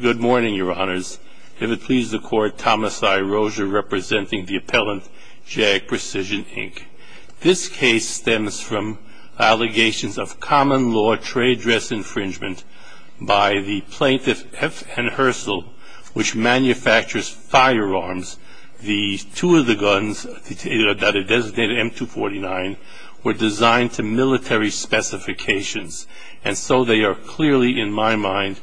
Good morning, Your Honors. If it pleases the Court, Thomas I. Rozier, representing the appellant, Jag Precision, Inc. This case stems from allegations of common law trade dress infringement by the plaintiff F. N. Herschel, which manufactures firearms. The two of the guns that are designated M249 were designed to military specifications, and so they are clearly, in my mind,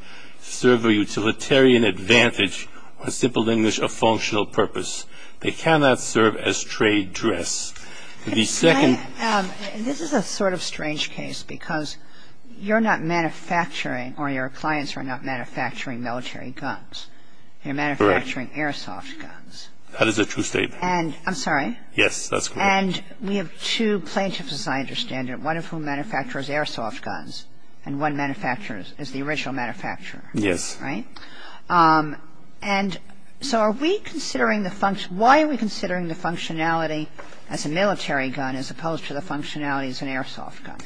serve a utilitarian advantage, or in simple English, a functional purpose. They cannot serve as trade dress. This is a sort of strange case, because you're not manufacturing, or your clients are not manufacturing military guns. You're manufacturing airsoft guns. That is a true statement. I'm sorry? Yes, that's correct. And we have two plaintiffs, as I understand it, one of whom manufactures airsoft guns, and one manufactures, is the original manufacturer. Yes. Right? And so are we considering the function, why are we considering the functionality as a military gun, as opposed to the functionality as an airsoft gun?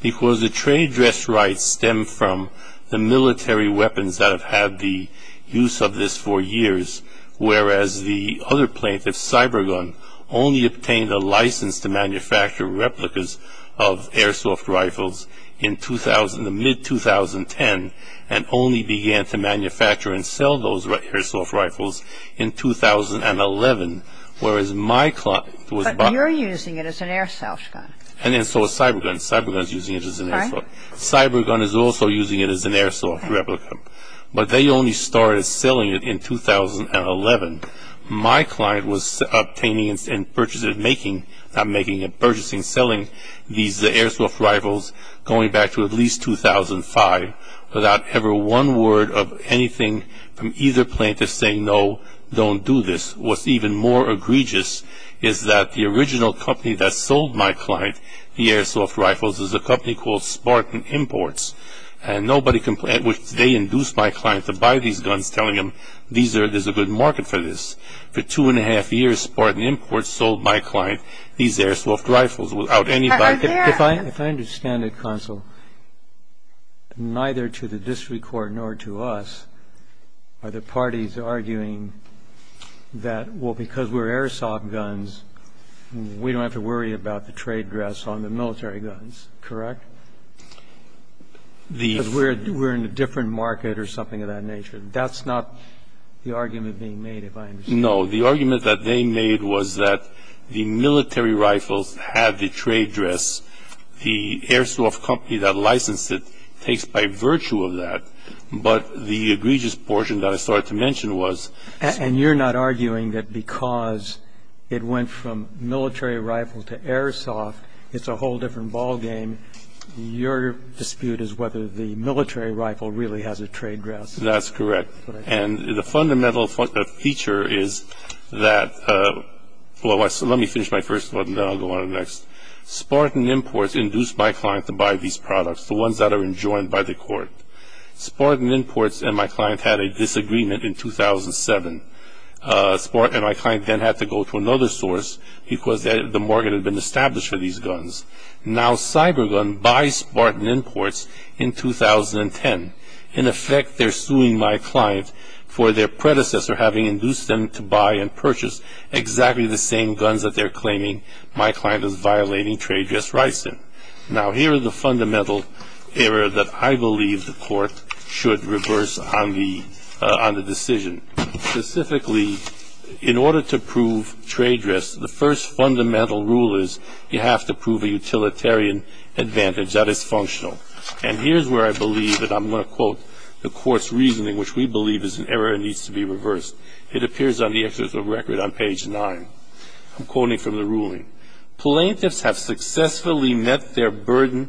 Because the trade dress rights stem from the military weapons that have had the use of this for years, whereas the other plaintiff, Cybergun, only obtained a license to manufacture replicas of airsoft rifles in the mid-2010, and only began to manufacture and sell those airsoft rifles in 2011, whereas my client was... But you're using it as an airsoft gun. And then so is Cybergun. Cybergun is using it as an airsoft. Right. Cybergun is also using it as an airsoft replica. But they only started selling it in 2011. My client was obtaining and purchasing, selling these airsoft rifles, going back to at least 2005, without ever one word of anything from either plaintiff saying, no, don't do this. What's even more egregious is that the original company that sold my client the airsoft rifles is a company called Spartan Imports, which they induced my client to buy these guns, telling him, there's a good market for this. For two and a half years, Spartan Imports sold my client these airsoft rifles without anybody... If I understand it, counsel, neither to the district court nor to us are the parties arguing that, well, because we're airsoft guns, we don't have to worry about the trade dress on the military guns, correct? Because we're in a different market or something of that nature. That's not the argument being made, if I understand. No. The argument that they made was that the military rifles had the trade dress. The airsoft company that licensed it takes by virtue of that. But the egregious portion that I started to mention was... And you're not arguing that because it went from military rifle to airsoft, it's a whole different ballgame. Your dispute is whether the military rifle really has a trade dress. That's correct. And the fundamental feature is that... Let me finish my first one, then I'll go on to the next. Spartan Imports induced my client to buy these products, the ones that are enjoined by the court. Spartan Imports and my client had a disagreement in 2007. Spartan and my client then had to go to another source because the market had been established for these guns. Now, Cybergun buys Spartan Imports in 2010. In effect, they're suing my client for their predecessor having induced them to buy and purchase exactly the same guns that they're claiming my client is violating trade dress rights in. Now, here is the fundamental error that I believe the court should reverse on the decision. Specifically, in order to prove trade dress, the first fundamental rule is you have to prove a utilitarian advantage that is functional. And here's where I believe that I'm going to quote the court's reasoning, which we believe is an error and needs to be reversed. It appears on the excerpt of the record on page 9. I'm quoting from the ruling. Plaintiffs have successfully met their burden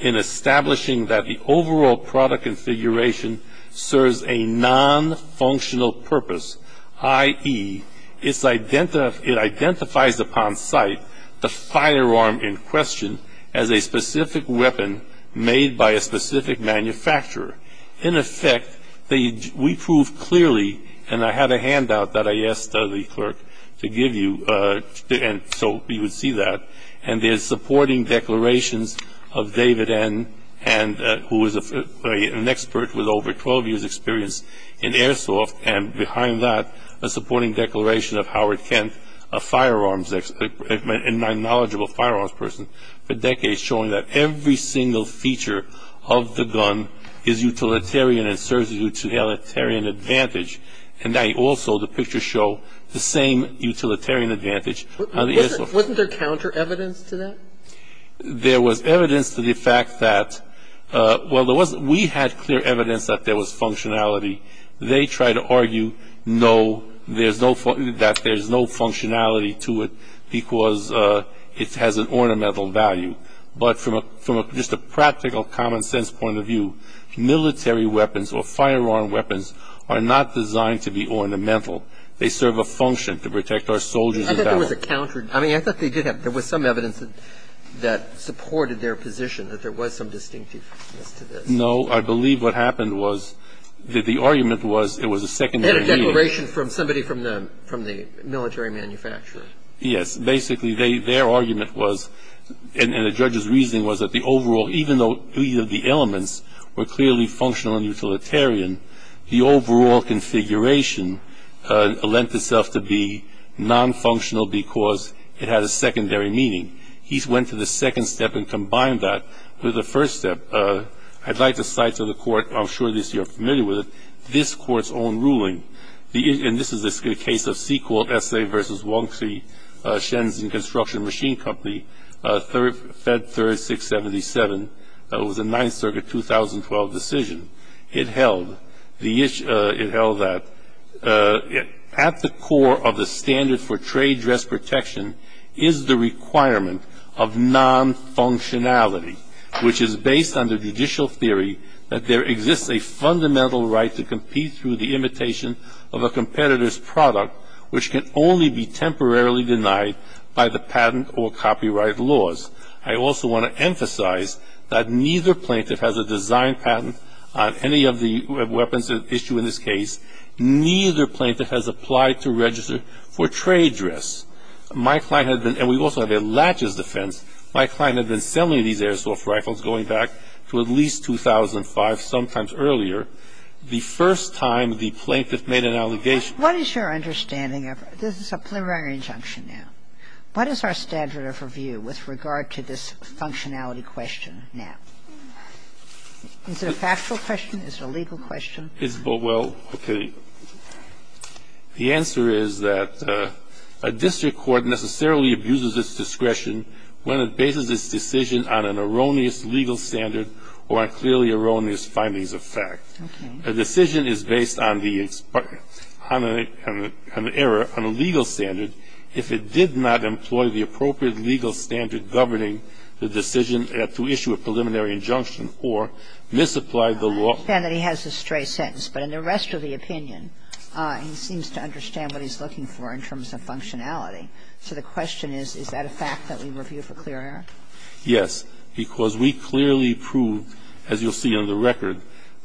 in establishing that the overall product configuration serves a non-functional purpose, i.e., it identifies upon sight the firearm in question as a specific weapon made by a specific manufacturer. In effect, we prove clearly, and I had a handout that I asked the clerk to give you so you would see that, and there's supporting declarations of David N., who is an expert with over 12 years' experience in airsoft, and behind that, a supporting declaration of Howard Kent, a firearms expert and a knowledgeable firearms person for decades, showing that every single feature of the gun is utilitarian and serves a utilitarian advantage. And I also, the pictures show the same utilitarian advantage on the airsoft. Wasn't there counter-evidence to that? There was evidence to the fact that, well, we had clear evidence that there was functionality. They try to argue no, that there's no functionality to it because it has an ornamental value. But from just a practical, common-sense point of view, military weapons or firearm weapons are not designed to be ornamental. They serve a function to protect our soldiers. I thought there was a counter- I mean, I thought there was some evidence that supported their position, that there was some distinctiveness to this. No. I believe what happened was that the argument was it was a secondary meaning. They had a declaration from somebody from the military manufacturer. Yes. Basically, their argument was, and the judge's reasoning was that the overall – even though either of the elements were clearly functional and utilitarian, the overall configuration lent itself to be non-functional because it had a secondary meaning. He went to the second step and combined that with the first step. I'd like to cite to the court – I'm sure you're familiar with it – this court's own ruling. And this is a case of Sequel, S.A. v. Wong Chi, Shenzhen Construction Machine Company, Fed 3677. It was a 9th Circuit 2012 decision. It held that at the core of the standard for trade dress protection is the requirement of non-functionality, which is based on the judicial theory that there exists a fundamental right to compete through the imitation of a competitor's product, which can only be temporarily denied by the patent or copyright laws. I also want to emphasize that neither plaintiff has a design patent on any of the weapons at issue in this case. Neither plaintiff has applied to register for trade dress. My client had been – and we also have a latches defense – my client had been selling these airsoft rifles going back to at least 2005, sometimes earlier, the first time the plaintiff made an allegation. What is your understanding of – this is a preliminary injunction now. What is our standard of review with regard to this functionality question now? Is it a factual question? Is it a legal question? Isabel, well, okay. The answer is that a district court necessarily abuses its discretion when it bases its decision on an erroneous legal standard or on clearly erroneous findings of fact. A decision is based on the – on an error, on a legal standard if it did not employ the appropriate legal standard. I understand that he has a stray sentence, but in the rest of the opinion, he seems to understand what he's looking for in terms of functionality. So the question is, is that a fact that we review for clear error? Yes, because we clearly prove, as you'll see on the record,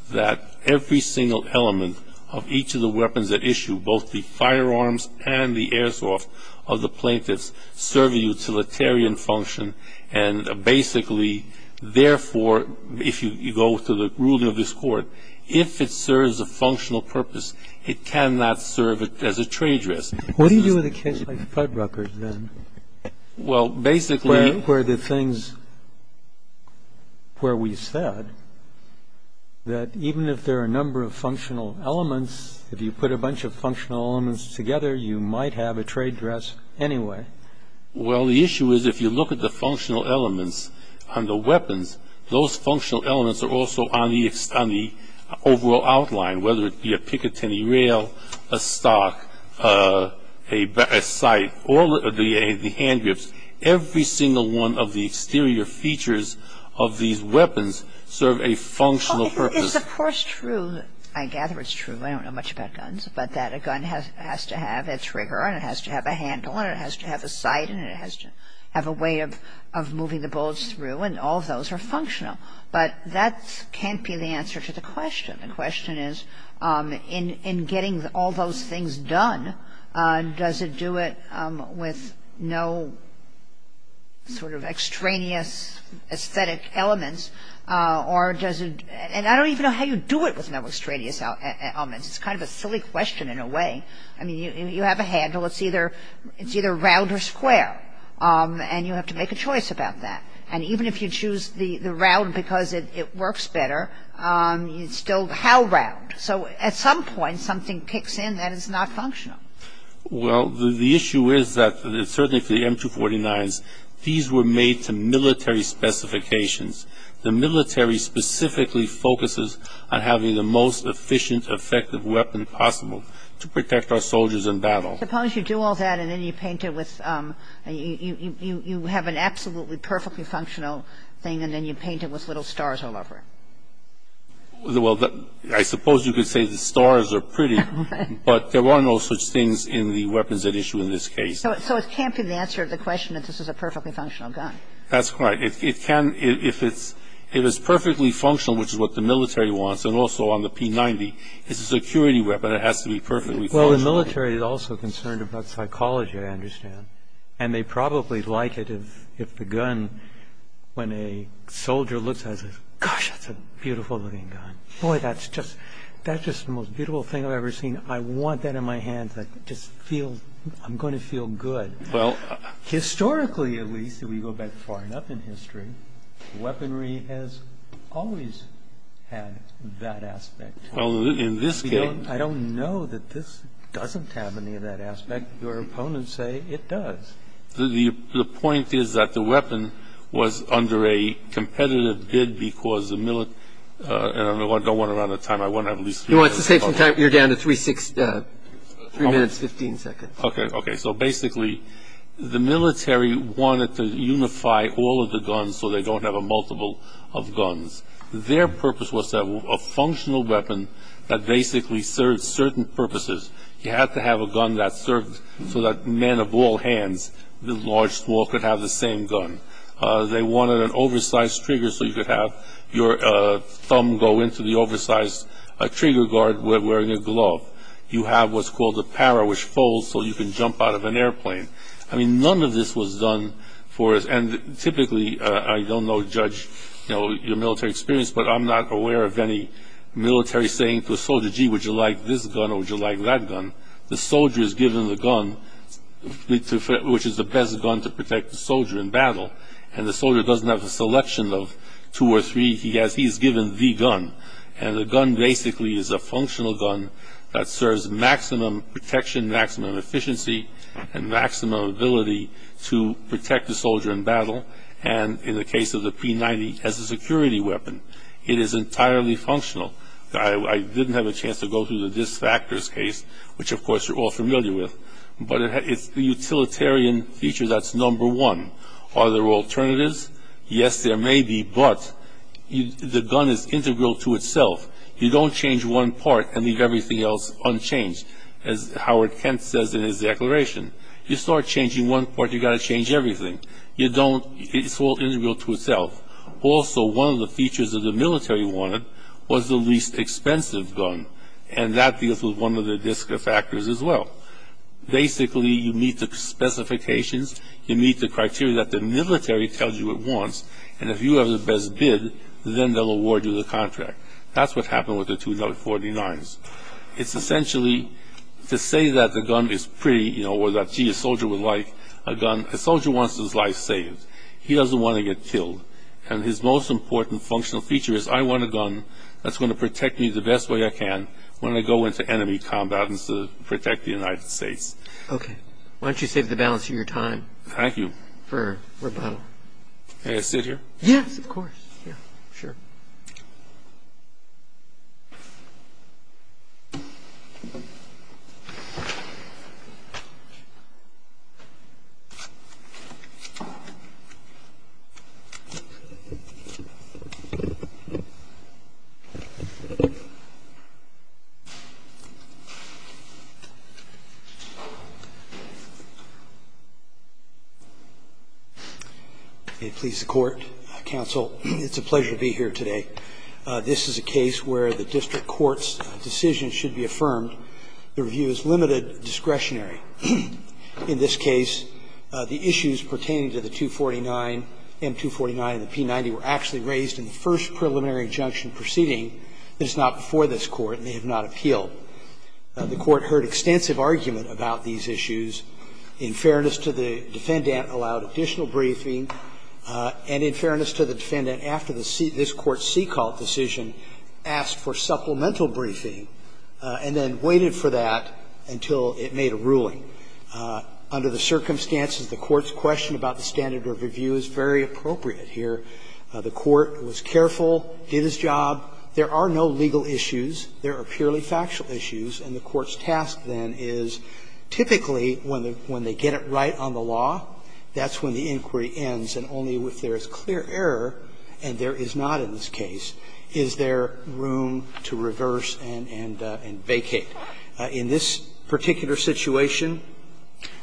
that every single element of each of the weapons at issue, both the firearms and the airsoft of the plaintiffs serve a utilitarian function. And basically, therefore, if you go to the ruling of this Court, if it serves a functional purpose, it cannot serve as a trade dress. What do you do with a case like Fuddruckers, then? Well, basically – Where the things – where we said that even if there are a number of functional elements, if you put a bunch of functional elements together, you might have a trade dress anyway. Well, the issue is if you look at the functional elements on the weapons, those functional elements are also on the – on the overall outline, whether it be a Picatinny rail, a stock, a scythe, or the hand grips. Every single one of the exterior features of these weapons serve a functional purpose. Well, it's, of course, true. I gather it's true. I don't know much about guns, but that a gun has to have its trigger, and it has to have a handle, and it has to have a sight, and it has to have a way of moving the bullets through, and all of those are functional. But that can't be the answer to the question. The question is, in getting all those things done, does it do it with no sort of extraneous aesthetic elements, or does it – and I don't even know how you do it with no extraneous elements. It's kind of a silly question in a way. I mean, you have a handle. It's either round or square, and you have to make a choice about that. And even if you choose the round because it works better, it's still how round? So at some point, something kicks in that is not functional. Well, the issue is that certainly for the M249s, these were made to military specifications. The military specifically focuses on having the most efficient, effective weapon possible to protect our soldiers in battle. Suppose you do all that, and then you paint it with – you have an absolutely perfectly functional thing, and then you paint it with little stars all over it. Well, I suppose you could say the stars are pretty, but there are no such things in the weapons at issue in this case. So it can't be the answer to the question that this is a perfectly functional gun. That's right. It can – if it's perfectly functional, which is what the military wants, and also on the P90, it's a security weapon. It has to be perfectly functional. Well, the military is also concerned about psychology, I understand. And they probably like it if the gun – when a soldier looks at it and says, gosh, that's a beautiful looking gun. Boy, that's just – that's just the most beautiful thing I've ever seen. I want that in my hands. I just feel – I'm going to feel good. Well – Historically, at least, if we go back far enough in history, weaponry has always had that aspect. Well, in this case – I don't know that this doesn't have any of that aspect. Your opponents say it does. The point is that the weapon was under a competitive bid because the – and I don't want to run out of time. I want to at least – You want to save some time? You're down to three minutes, 15 seconds. Okay. Okay. So basically, the military wanted to unify all of the guns so they don't have a multiple of guns. Their purpose was to have a functional weapon that basically served certain purposes. You had to have a gun that served so that men of all hands, the large, small, could have the same gun. They wanted an oversized trigger so you could have your thumb go into the oversized trigger guard wearing a glove. You have what's called a para, which folds so you can jump out of an airplane. I mean, none of this was done for – and typically – I don't know, Judge, your military experience, but I'm not aware of any military saying to a soldier, gee, would you like this gun or would you like that gun? The soldier is given the gun, which is the best gun to protect the soldier in battle. And the soldier doesn't have a selection of two or three. He's given the gun. And the gun basically is a functional gun that serves maximum protection, maximum efficiency, and maximum ability to protect the soldier in battle. And in the case of the P90, it has a security weapon. It is entirely functional. I didn't have a chance to go through the DisFactors case, which of course you're all familiar with. But it's the utilitarian feature that's number one. Are there alternatives? Yes, there may be, but the gun is integral to itself. You don't change one part and leave everything else unchanged, as Howard Kent says in his declaration. You start changing one part, you've got to change everything. It's all integral to itself. Also, one of the features that the military wanted was the least expensive gun. And that deals with one of the DisFactors as well. Basically, you meet the specifications. You meet the criteria that the military tells you it wants. And if you have the best bid, then they'll award you the contract. That's what happened with the two .49s. It's essentially to say that the gun is pretty, or that, gee, a soldier would like a gun. A soldier wants his life saved. He doesn't want to get killed. And his most important functional feature is, I want a gun that's going to protect me the best way I can when I go into enemy combat and protect the United States. Okay. Why don't you save the balance of your time? Thank you. For rebuttal. May I sit here? Yes, of course. May it please the Court, Counsel, it's a pleasure to be here today. This is a case where the district court's decision should be affirmed. The review is limited discretionary. In this case, the issues pertaining to the .249, M249, and the P90 were actually raised in the first preliminary injunction proceeding. This is not before this Court, and they have not appealed. The Court heard extensive argument about these issues. In fairness to the defendant, allowed additional briefing. And in fairness to the defendant, after this Court's C-call decision, asked for supplemental briefing and then waited for that until it made a ruling. Under the circumstances, the Court's question about the standard of review is very appropriate here. The Court was careful, did its job. There are no legal issues. There are purely factual issues. And the Court's task, then, is typically when they get it right on the law, that's when the inquiry ends. And only if there is clear error, and there is not in this case, is there room to reverse and vacate. In this particular situation,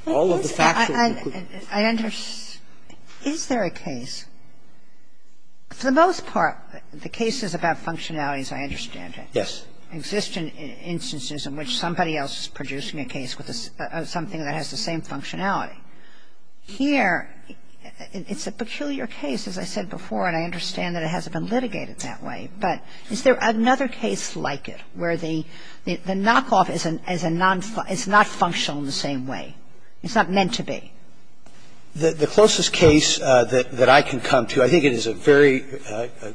all of the facts are included. I understand. Is there a case? For the most part, the cases about functionalities, I understand it. Yes. Existing instances in which somebody else is producing a case with something that has the same functionality. Here, it's a peculiar case, as I said before, and I understand that it hasn't been litigated that way. But is there another case like it where the knockoff is a non-functional in the same way? It's not meant to be. The closest case that I can come to, I think it is a very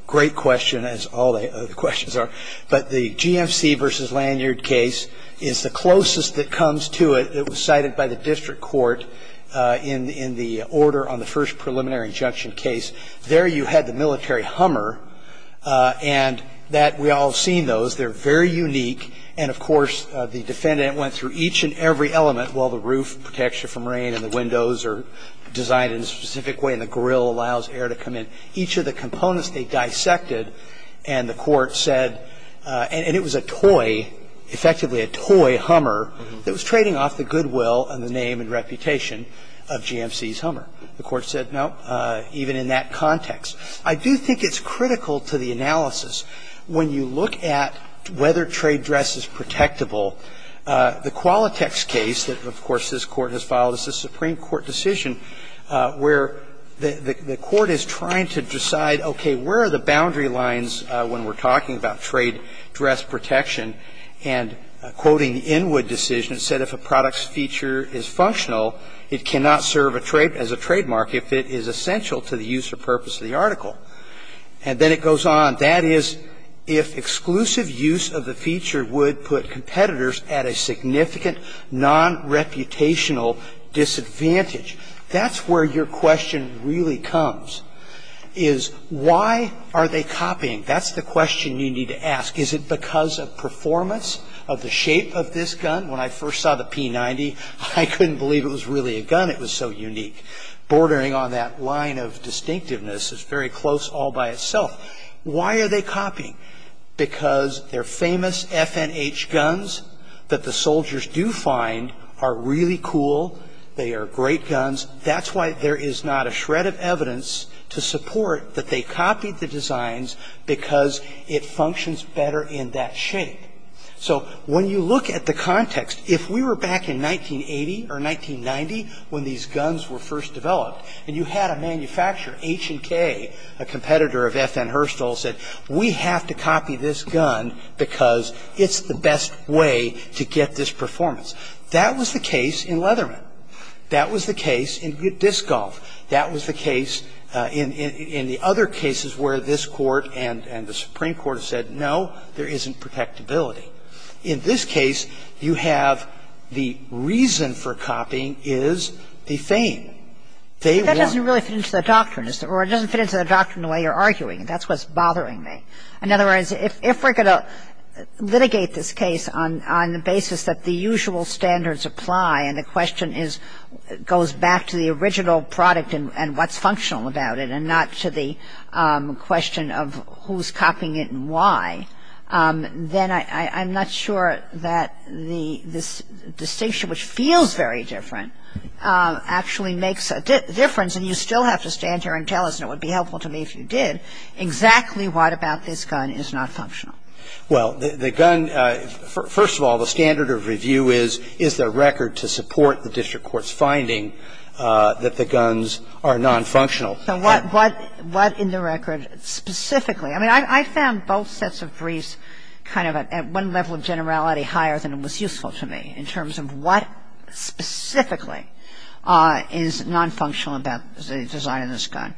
great question, as all the questions are. But the GMC v. Lanyard case is the closest that comes to it. It was cited by the district court in the order on the first preliminary injunction case. There you had the military hummer, and that we all have seen those. They're very unique. And, of course, the defendant went through each and every element while the roof protects you from rain and the windows are designed in a specific way and the grill allows air to come in. Each of the components they dissected, and the court said, and it was a toy, effectively a toy hummer, that was trading off the goodwill and the name and reputation of GMC's hummer. The court said, no, even in that context. I do think it's critical to the analysis when you look at whether trade dress is protectable. The Qualitex case that, of course, this Court has filed is a Supreme Court decision where the Court is trying to decide, okay, where are the boundary lines when we're talking about trade dress protection? And quoting the Inwood decision, it said if a product's feature is functional, it cannot serve as a trademark if it is essential to the use or purpose of the article. And then it goes on. That is, if exclusive use of the feature would put competitors at a significant, non-reputational disadvantage. That's where your question really comes, is why are they copying? That's the question you need to ask. Is it because of performance, of the shape of this gun? When I first saw the P90, I couldn't believe it was really a gun. It was so unique. Bordering on that line of distinctiveness is very close all by itself. Why are they copying? Because they're famous FNH guns that the soldiers do find are really cool. They are great guns. That's why there is not a shred of evidence to support that they copied the designs because it functions better in that shape. So when you look at the context, if we were back in 1980 or 1990, when these guns were first developed, and you had a manufacturer, H&K, a competitor of FN Herstal, said, we have to copy this gun because it's the best way to get this performance. That was the case in Leatherman. That was the case in Good Disc Golf. That was the case in the other cases where this Court and the Supreme Court said, no, there isn't protectability. In this case, you have the reason for copying is the fame. They want to copy. Kagan. But that doesn't really fit into the doctrine. Or it doesn't fit into the doctrine the way you're arguing. That's what's bothering me. In other words, if we're going to litigate this case on the basis that the usual standards apply, and the question is, goes back to the original product and what's functional about it, and not to the question of who's copying it and why, then I'm not sure that this distinction, which feels very different, actually makes a difference. And you still have to stand here and tell us, and it would be helpful to me if you did, exactly what about this gun is not functional. Well, the gun, first of all, the standard of review is, is there record to support the district court's finding that the guns are nonfunctional. So what in the record specifically? I mean, I found both sets of briefs kind of at one level of generality higher than was useful to me in terms of what specifically is nonfunctional about the design of this gun.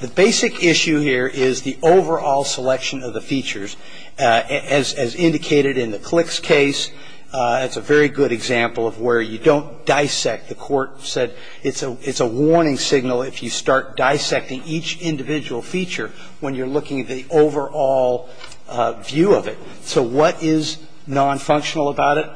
The basic issue here is the overall selection of the features. As indicated in the Klicks case, it's a very good example of where you don't dissect. The court said it's a warning signal if you start dissecting each individual feature when you're looking at the overall view of it. So what is nonfunctional about it?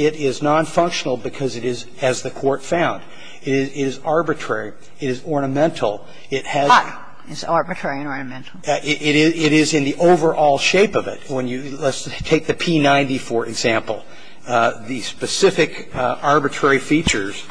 It is nonfunctional because it is as the court found. It is arbitrary. It is ornamental. It has. But it's arbitrary and ornamental. It is in the overall shape of it. Let's take the P90, for example. The specific arbitrary features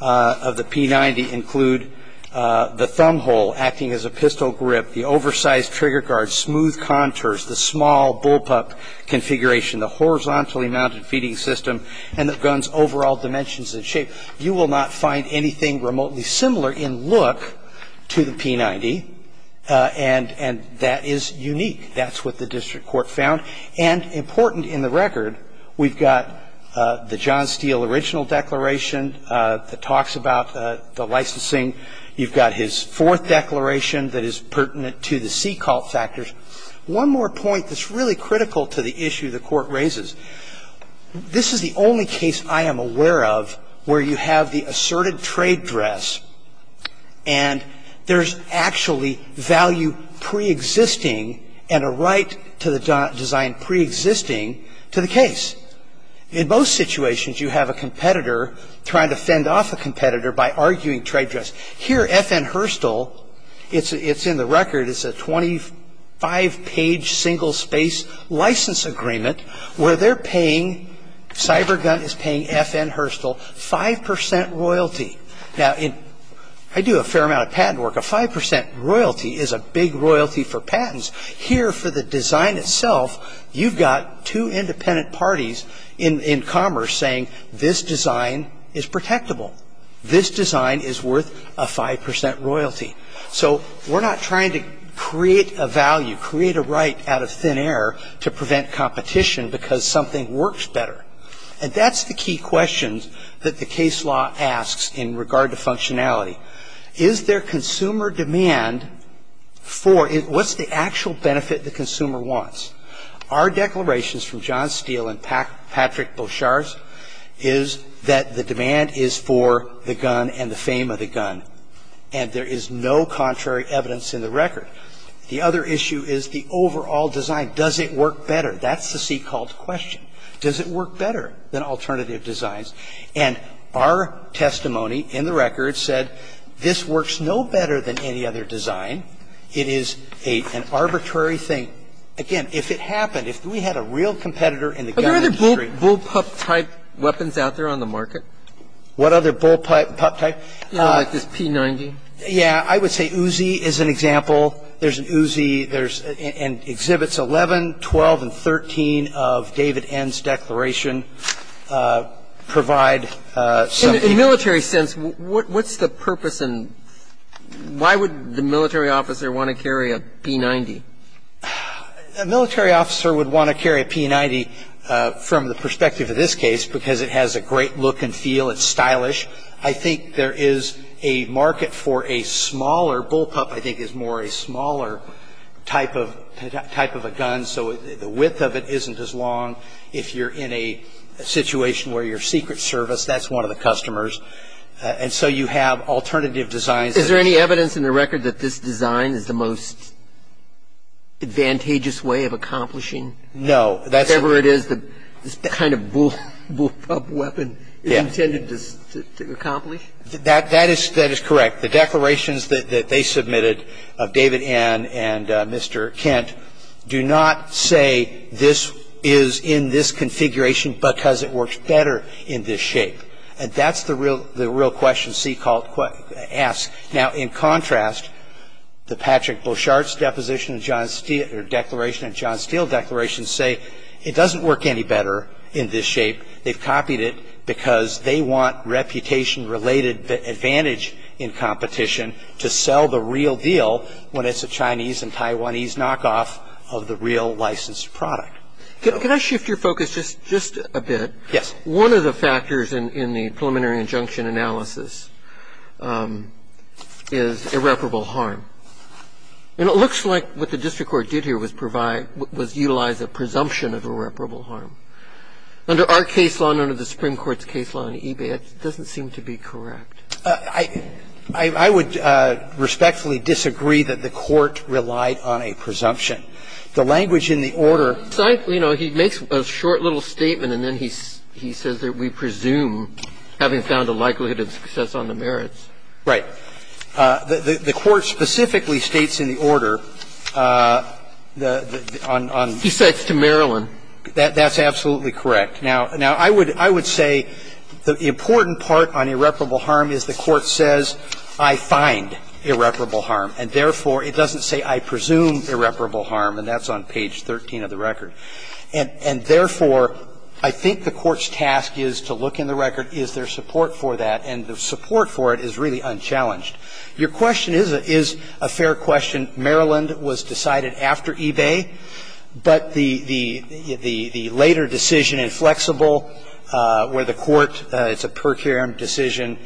of the P90 include the thumb hole acting as a pistol grip, the oversized trigger guard, smooth contours, the small bullpup configuration, the horizontally mounted feeding system, and the gun's overall dimensions and shape. So you will not find anything remotely similar in look to the P90. And that is unique. That's what the district court found. And important in the record, we've got the John Steele original declaration that talks about the licensing. You've got his fourth declaration that is pertinent to the C cult factors. One more point that's really critical to the issue the court raises. This is the only case I am aware of where you have the asserted trade dress and there's actually value preexisting and a right to the design preexisting to the case. In most situations, you have a competitor trying to fend off a competitor by arguing trade dress. Here, FN Herstal, it's in the record, it's a 25-page single-space license agreement where they're paying, CyberGun is paying FN Herstal 5% royalty. Now, I do a fair amount of patent work. A 5% royalty is a big royalty for patents. Here, for the design itself, you've got two independent parties in commerce saying, this design is protectable, this design is worth a 5% royalty. So we're not trying to create a value, create a right out of thin air to prevent competition because something works better. And that's the key question that the case law asks in regard to functionality. Is there consumer demand for, what's the actual benefit the consumer wants? Our declarations from John Steele and Patrick Boshars is that the demand is for the gun and the fame of the gun. And there is no contrary evidence in the record. The other issue is the overall design. Does it work better? That's the C called question. Does it work better than alternative designs? And our testimony in the record said this works no better than any other design. It is an arbitrary thing. Again, if it happened, if we had a real competitor in the gun industry. Are there other bullpup-type weapons out there on the market? What other bullpup-type? Like this P90. Yeah. I would say Uzi is an example. There's an Uzi. There's exhibits 11, 12, and 13 of David N.'s declaration provide something. In a military sense, what's the purpose and why would the military officer want to carry a P90? A military officer would want to carry a P90 from the perspective of this case because it has a great look and feel. It's stylish. I think there is a market for a smaller bullpup. I think it's more a smaller type of a gun so the width of it isn't as long. If you're in a situation where you're secret service, that's one of the customers. And so you have alternative designs. Is there any evidence in the record that this design is the most advantageous way of accomplishing? No. Whatever it is, this kind of bullpup weapon is intended to accomplish? That is correct. The declarations that they submitted of David N. and Mr. Kent do not say this is in this configuration because it works better in this shape. And that's the real question C asks. Now, in contrast, the Patrick Beauchart's deposition and John Steele declaration say it doesn't work any better in this shape. They've copied it because they want reputation-related advantage in competition to sell the real deal when it's a Chinese and Taiwanese knockoff of the real licensed product. Could I shift your focus just a bit? Yes. One of the factors in the preliminary injunction analysis is irreparable harm. And it looks like what the district court did here was utilize a presumption of irreparable harm. Under our case law and under the Supreme Court's case law in eBay, it doesn't seem to be correct. I would respectfully disagree that the court relied on a presumption. The language in the order He makes a short little statement and then he says that we presume having found a likelihood of success on the merits. Right. The court specifically states in the order on He says to Maryland. That's absolutely correct. Now, I would say the important part on irreparable harm is the court says I find irreparable harm, and therefore it doesn't say I presume irreparable harm, and that's on page 13 of the record. And therefore, I think the court's task is to look in the record, is there support for that, and the support for it is really unchallenged. Your question is a fair question. Maryland was decided after eBay, but the later decision in Flexible where the court It's a per curiam decision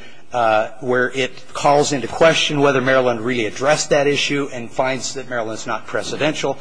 where it calls into question whether Maryland really addressed that issue and finds that Maryland's not precedential.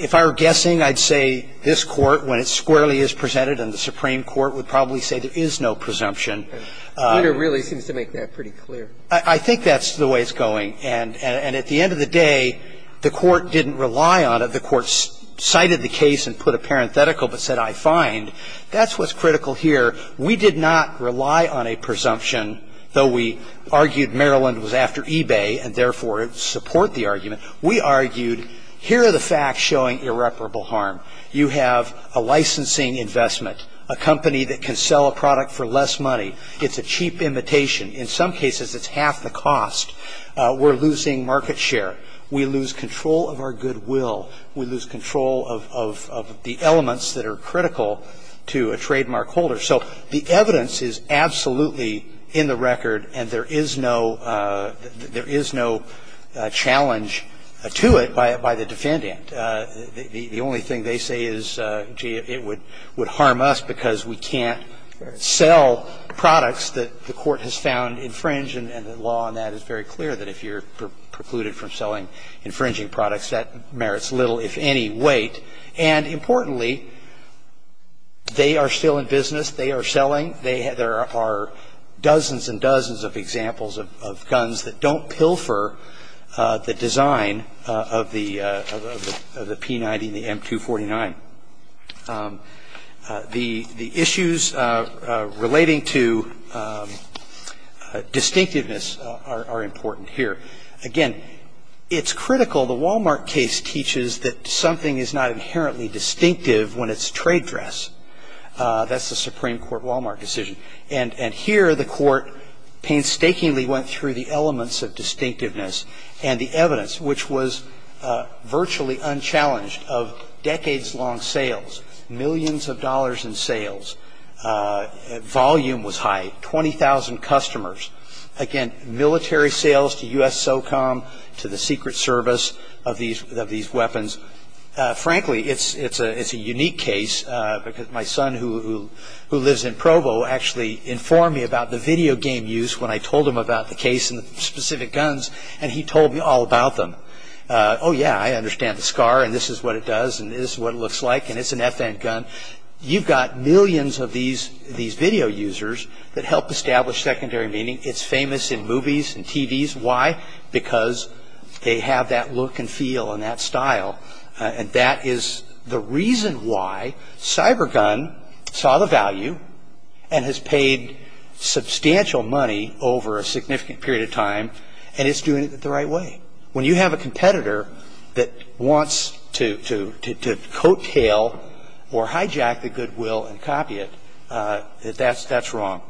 If I were guessing, I'd say this Court, when it squarely is presented in the Supreme Court, would probably say there is no presumption. The order really seems to make that pretty clear. I think that's the way it's going. And at the end of the day, the court didn't rely on it. The court cited the case and put a parenthetical but said I find. That's what's critical here. We did not rely on a presumption, though we argued Maryland was after eBay and therefore support the argument. We argued here are the facts showing irreparable harm. You have a licensing investment, a company that can sell a product for less money. It's a cheap imitation. In some cases, it's half the cost. We're losing market share. We lose control of our goodwill. We lose control of the elements that are critical to a trademark holder. So the evidence is absolutely in the record, and there is no challenge to it by the defendant. The only thing they say is, gee, it would harm us because we can't sell products that the court has found infringe, and the law on that is very clear, that if you're going to sell a product, you're going to have to pay a little, if any, weight. And importantly, they are still in business. They are selling. There are dozens and dozens of examples of guns that don't pilfer the design of the P90 and the M249. The issues relating to distinctiveness are important here. Again, it's critical. The Wal-Mart case teaches that something is not inherently distinctive when it's trade dress. That's the Supreme Court Wal-Mart decision. And here the Court painstakingly went through the elements of distinctiveness and the evidence, which was virtually unchallenged, of decades-long sales, millions of dollars in sales. Volume was high, 20,000 customers. Again, military sales to U.S. SOCOM, to the Secret Service of these weapons. Frankly, it's a unique case because my son, who lives in Provo, actually informed me about the video game use when I told him about the case and the specific guns, and he told me all about them. Oh, yeah, I understand the SCAR, and this is what it does, and this is what it looks like, and it's an FN gun. You've got millions of these video users that help establish secondary meaning. It's famous in movies and TVs. Why? Because they have that look and feel and that style. And that is the reason why CyberGun saw the value and has paid substantial money over a significant period of time, and it's doing it the right way. When you have a competitor that wants to coattail or hijack the goodwill and copy it, that's wrong.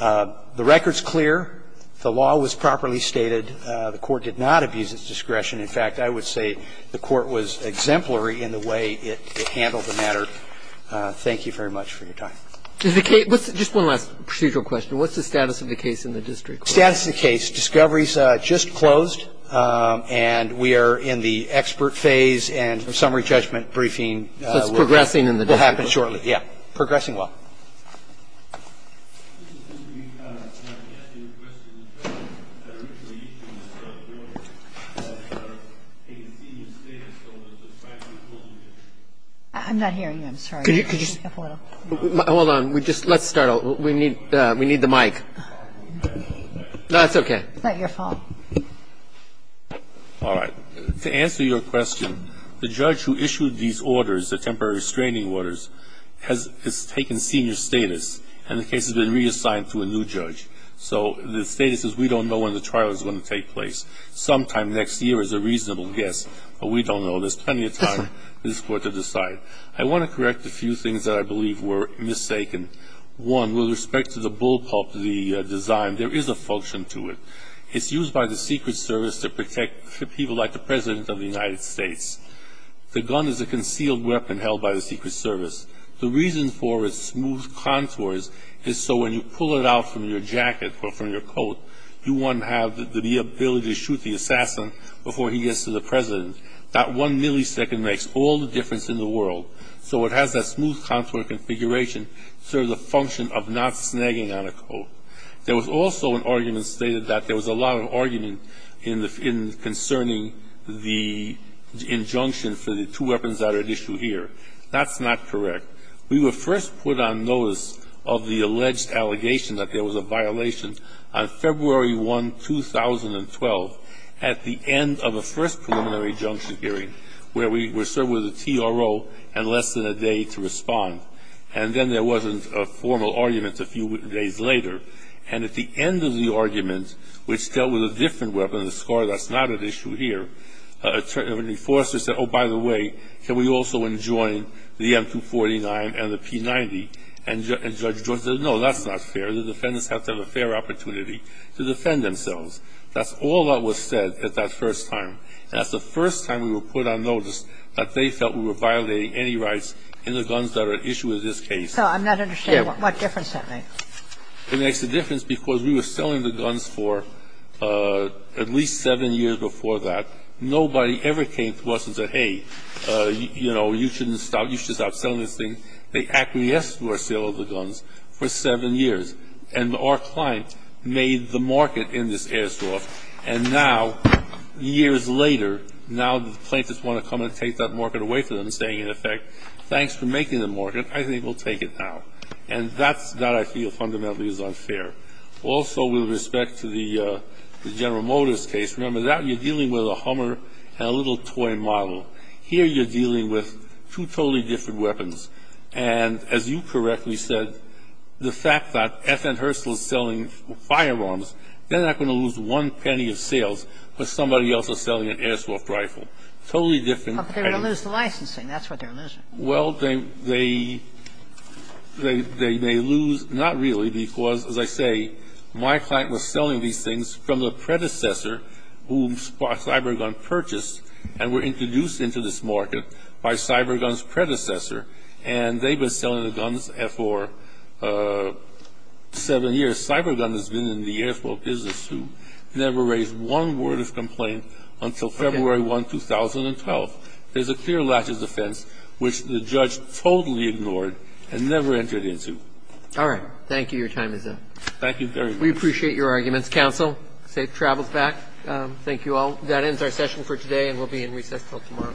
The record's clear. The law was properly stated. The Court did not abuse its discretion. In fact, I would say the Court was exemplary in the way it handled the matter. Thank you very much for your time. Just one last procedural question. What's the status of the case in the district? Status of the case. Discovery's just closed, and we are in the expert phase, and summary judgment briefing will happen shortly. So it's progressing in the district. Yeah, progressing well. I'm not hearing you. I'm sorry. Hold on. Let's start over. We need the mic. No, it's okay. It's not your fault. All right. To answer your question, the judge who issued these orders, the temporary restraining orders, has taken serious notice of the fact that the district and the case has been reassigned to a new judge. So the status is we don't know when the trial is going to take place. Sometime next year is a reasonable guess, but we don't know. There's plenty of time for this Court to decide. I want to correct a few things that I believe were mistaken. One, with respect to the bullpup, the design, there is a function to it. It's used by the Secret Service to protect people like the President of the United States. The gun is a concealed weapon held by the Secret Service. The reason for its smooth contours is so when you pull it out from your jacket or from your coat, you want to have the ability to shoot the assassin before he gets to the President. That one millisecond makes all the difference in the world. So it has that smooth contour configuration to serve the function of not snagging on a coat. There was also an argument stated that there was a lot of argument concerning the injunction for the two weapons that are at issue here. That's not correct. We were first put on notice of the alleged allegation that there was a violation on February 1, 2012, at the end of the first preliminary injunction hearing, where we were served with a TRO and less than a day to respond. And then there wasn't a formal argument a few days later. And at the end of the argument, which dealt with a different weapon, a SCAR that's not at issue here, a defense attorney said, oh, by the way, can we also enjoin the M249 and the P90? And Judge George said, no, that's not fair. The defendants have to have a fair opportunity to defend themselves. That's all that was said at that first time. And that's the first time we were put on notice that they felt we were violating any rights in the guns that are at issue in this case. So I'm not understanding what difference that makes. It makes a difference because we were selling the guns for at least seven years before that. Nobody ever came to us and said, hey, you know, you shouldn't stop. You should stop selling this thing. They acquiesced to our sale of the guns for seven years. And our client made the market in this airsoft. And now, years later, now the plaintiffs want to come and take that market away from them, saying, in effect, thanks for making the market. I think we'll take it now. And that I feel fundamentally is unfair. Also, with respect to the General Motors case, remember that. You're dealing with a Hummer and a little toy model. Here you're dealing with two totally different weapons. And as you correctly said, the fact that FN Herstal is selling firearms, they're not going to lose one penny of sales for somebody else selling an airsoft rifle. Totally different. Kagan. But they're going to lose the licensing. That's what they're losing. Well, they may lose. Not really, because, as I say, my client was selling these things from the predecessor whom Cybergun purchased and were introduced into this market by Cybergun's predecessor. And they've been selling the guns for seven years. Cybergun has been in the airsoft business, who never raised one word of complaint until February 1, 2012. There's a clear latch of defense, which the judge totally ignored and never entered into. All right. Thank you. Your time is up. Thank you very much. We appreciate your arguments. Defense counsel, safe travels back. Thank you all. That ends our session for today, and we'll be in recess until tomorrow.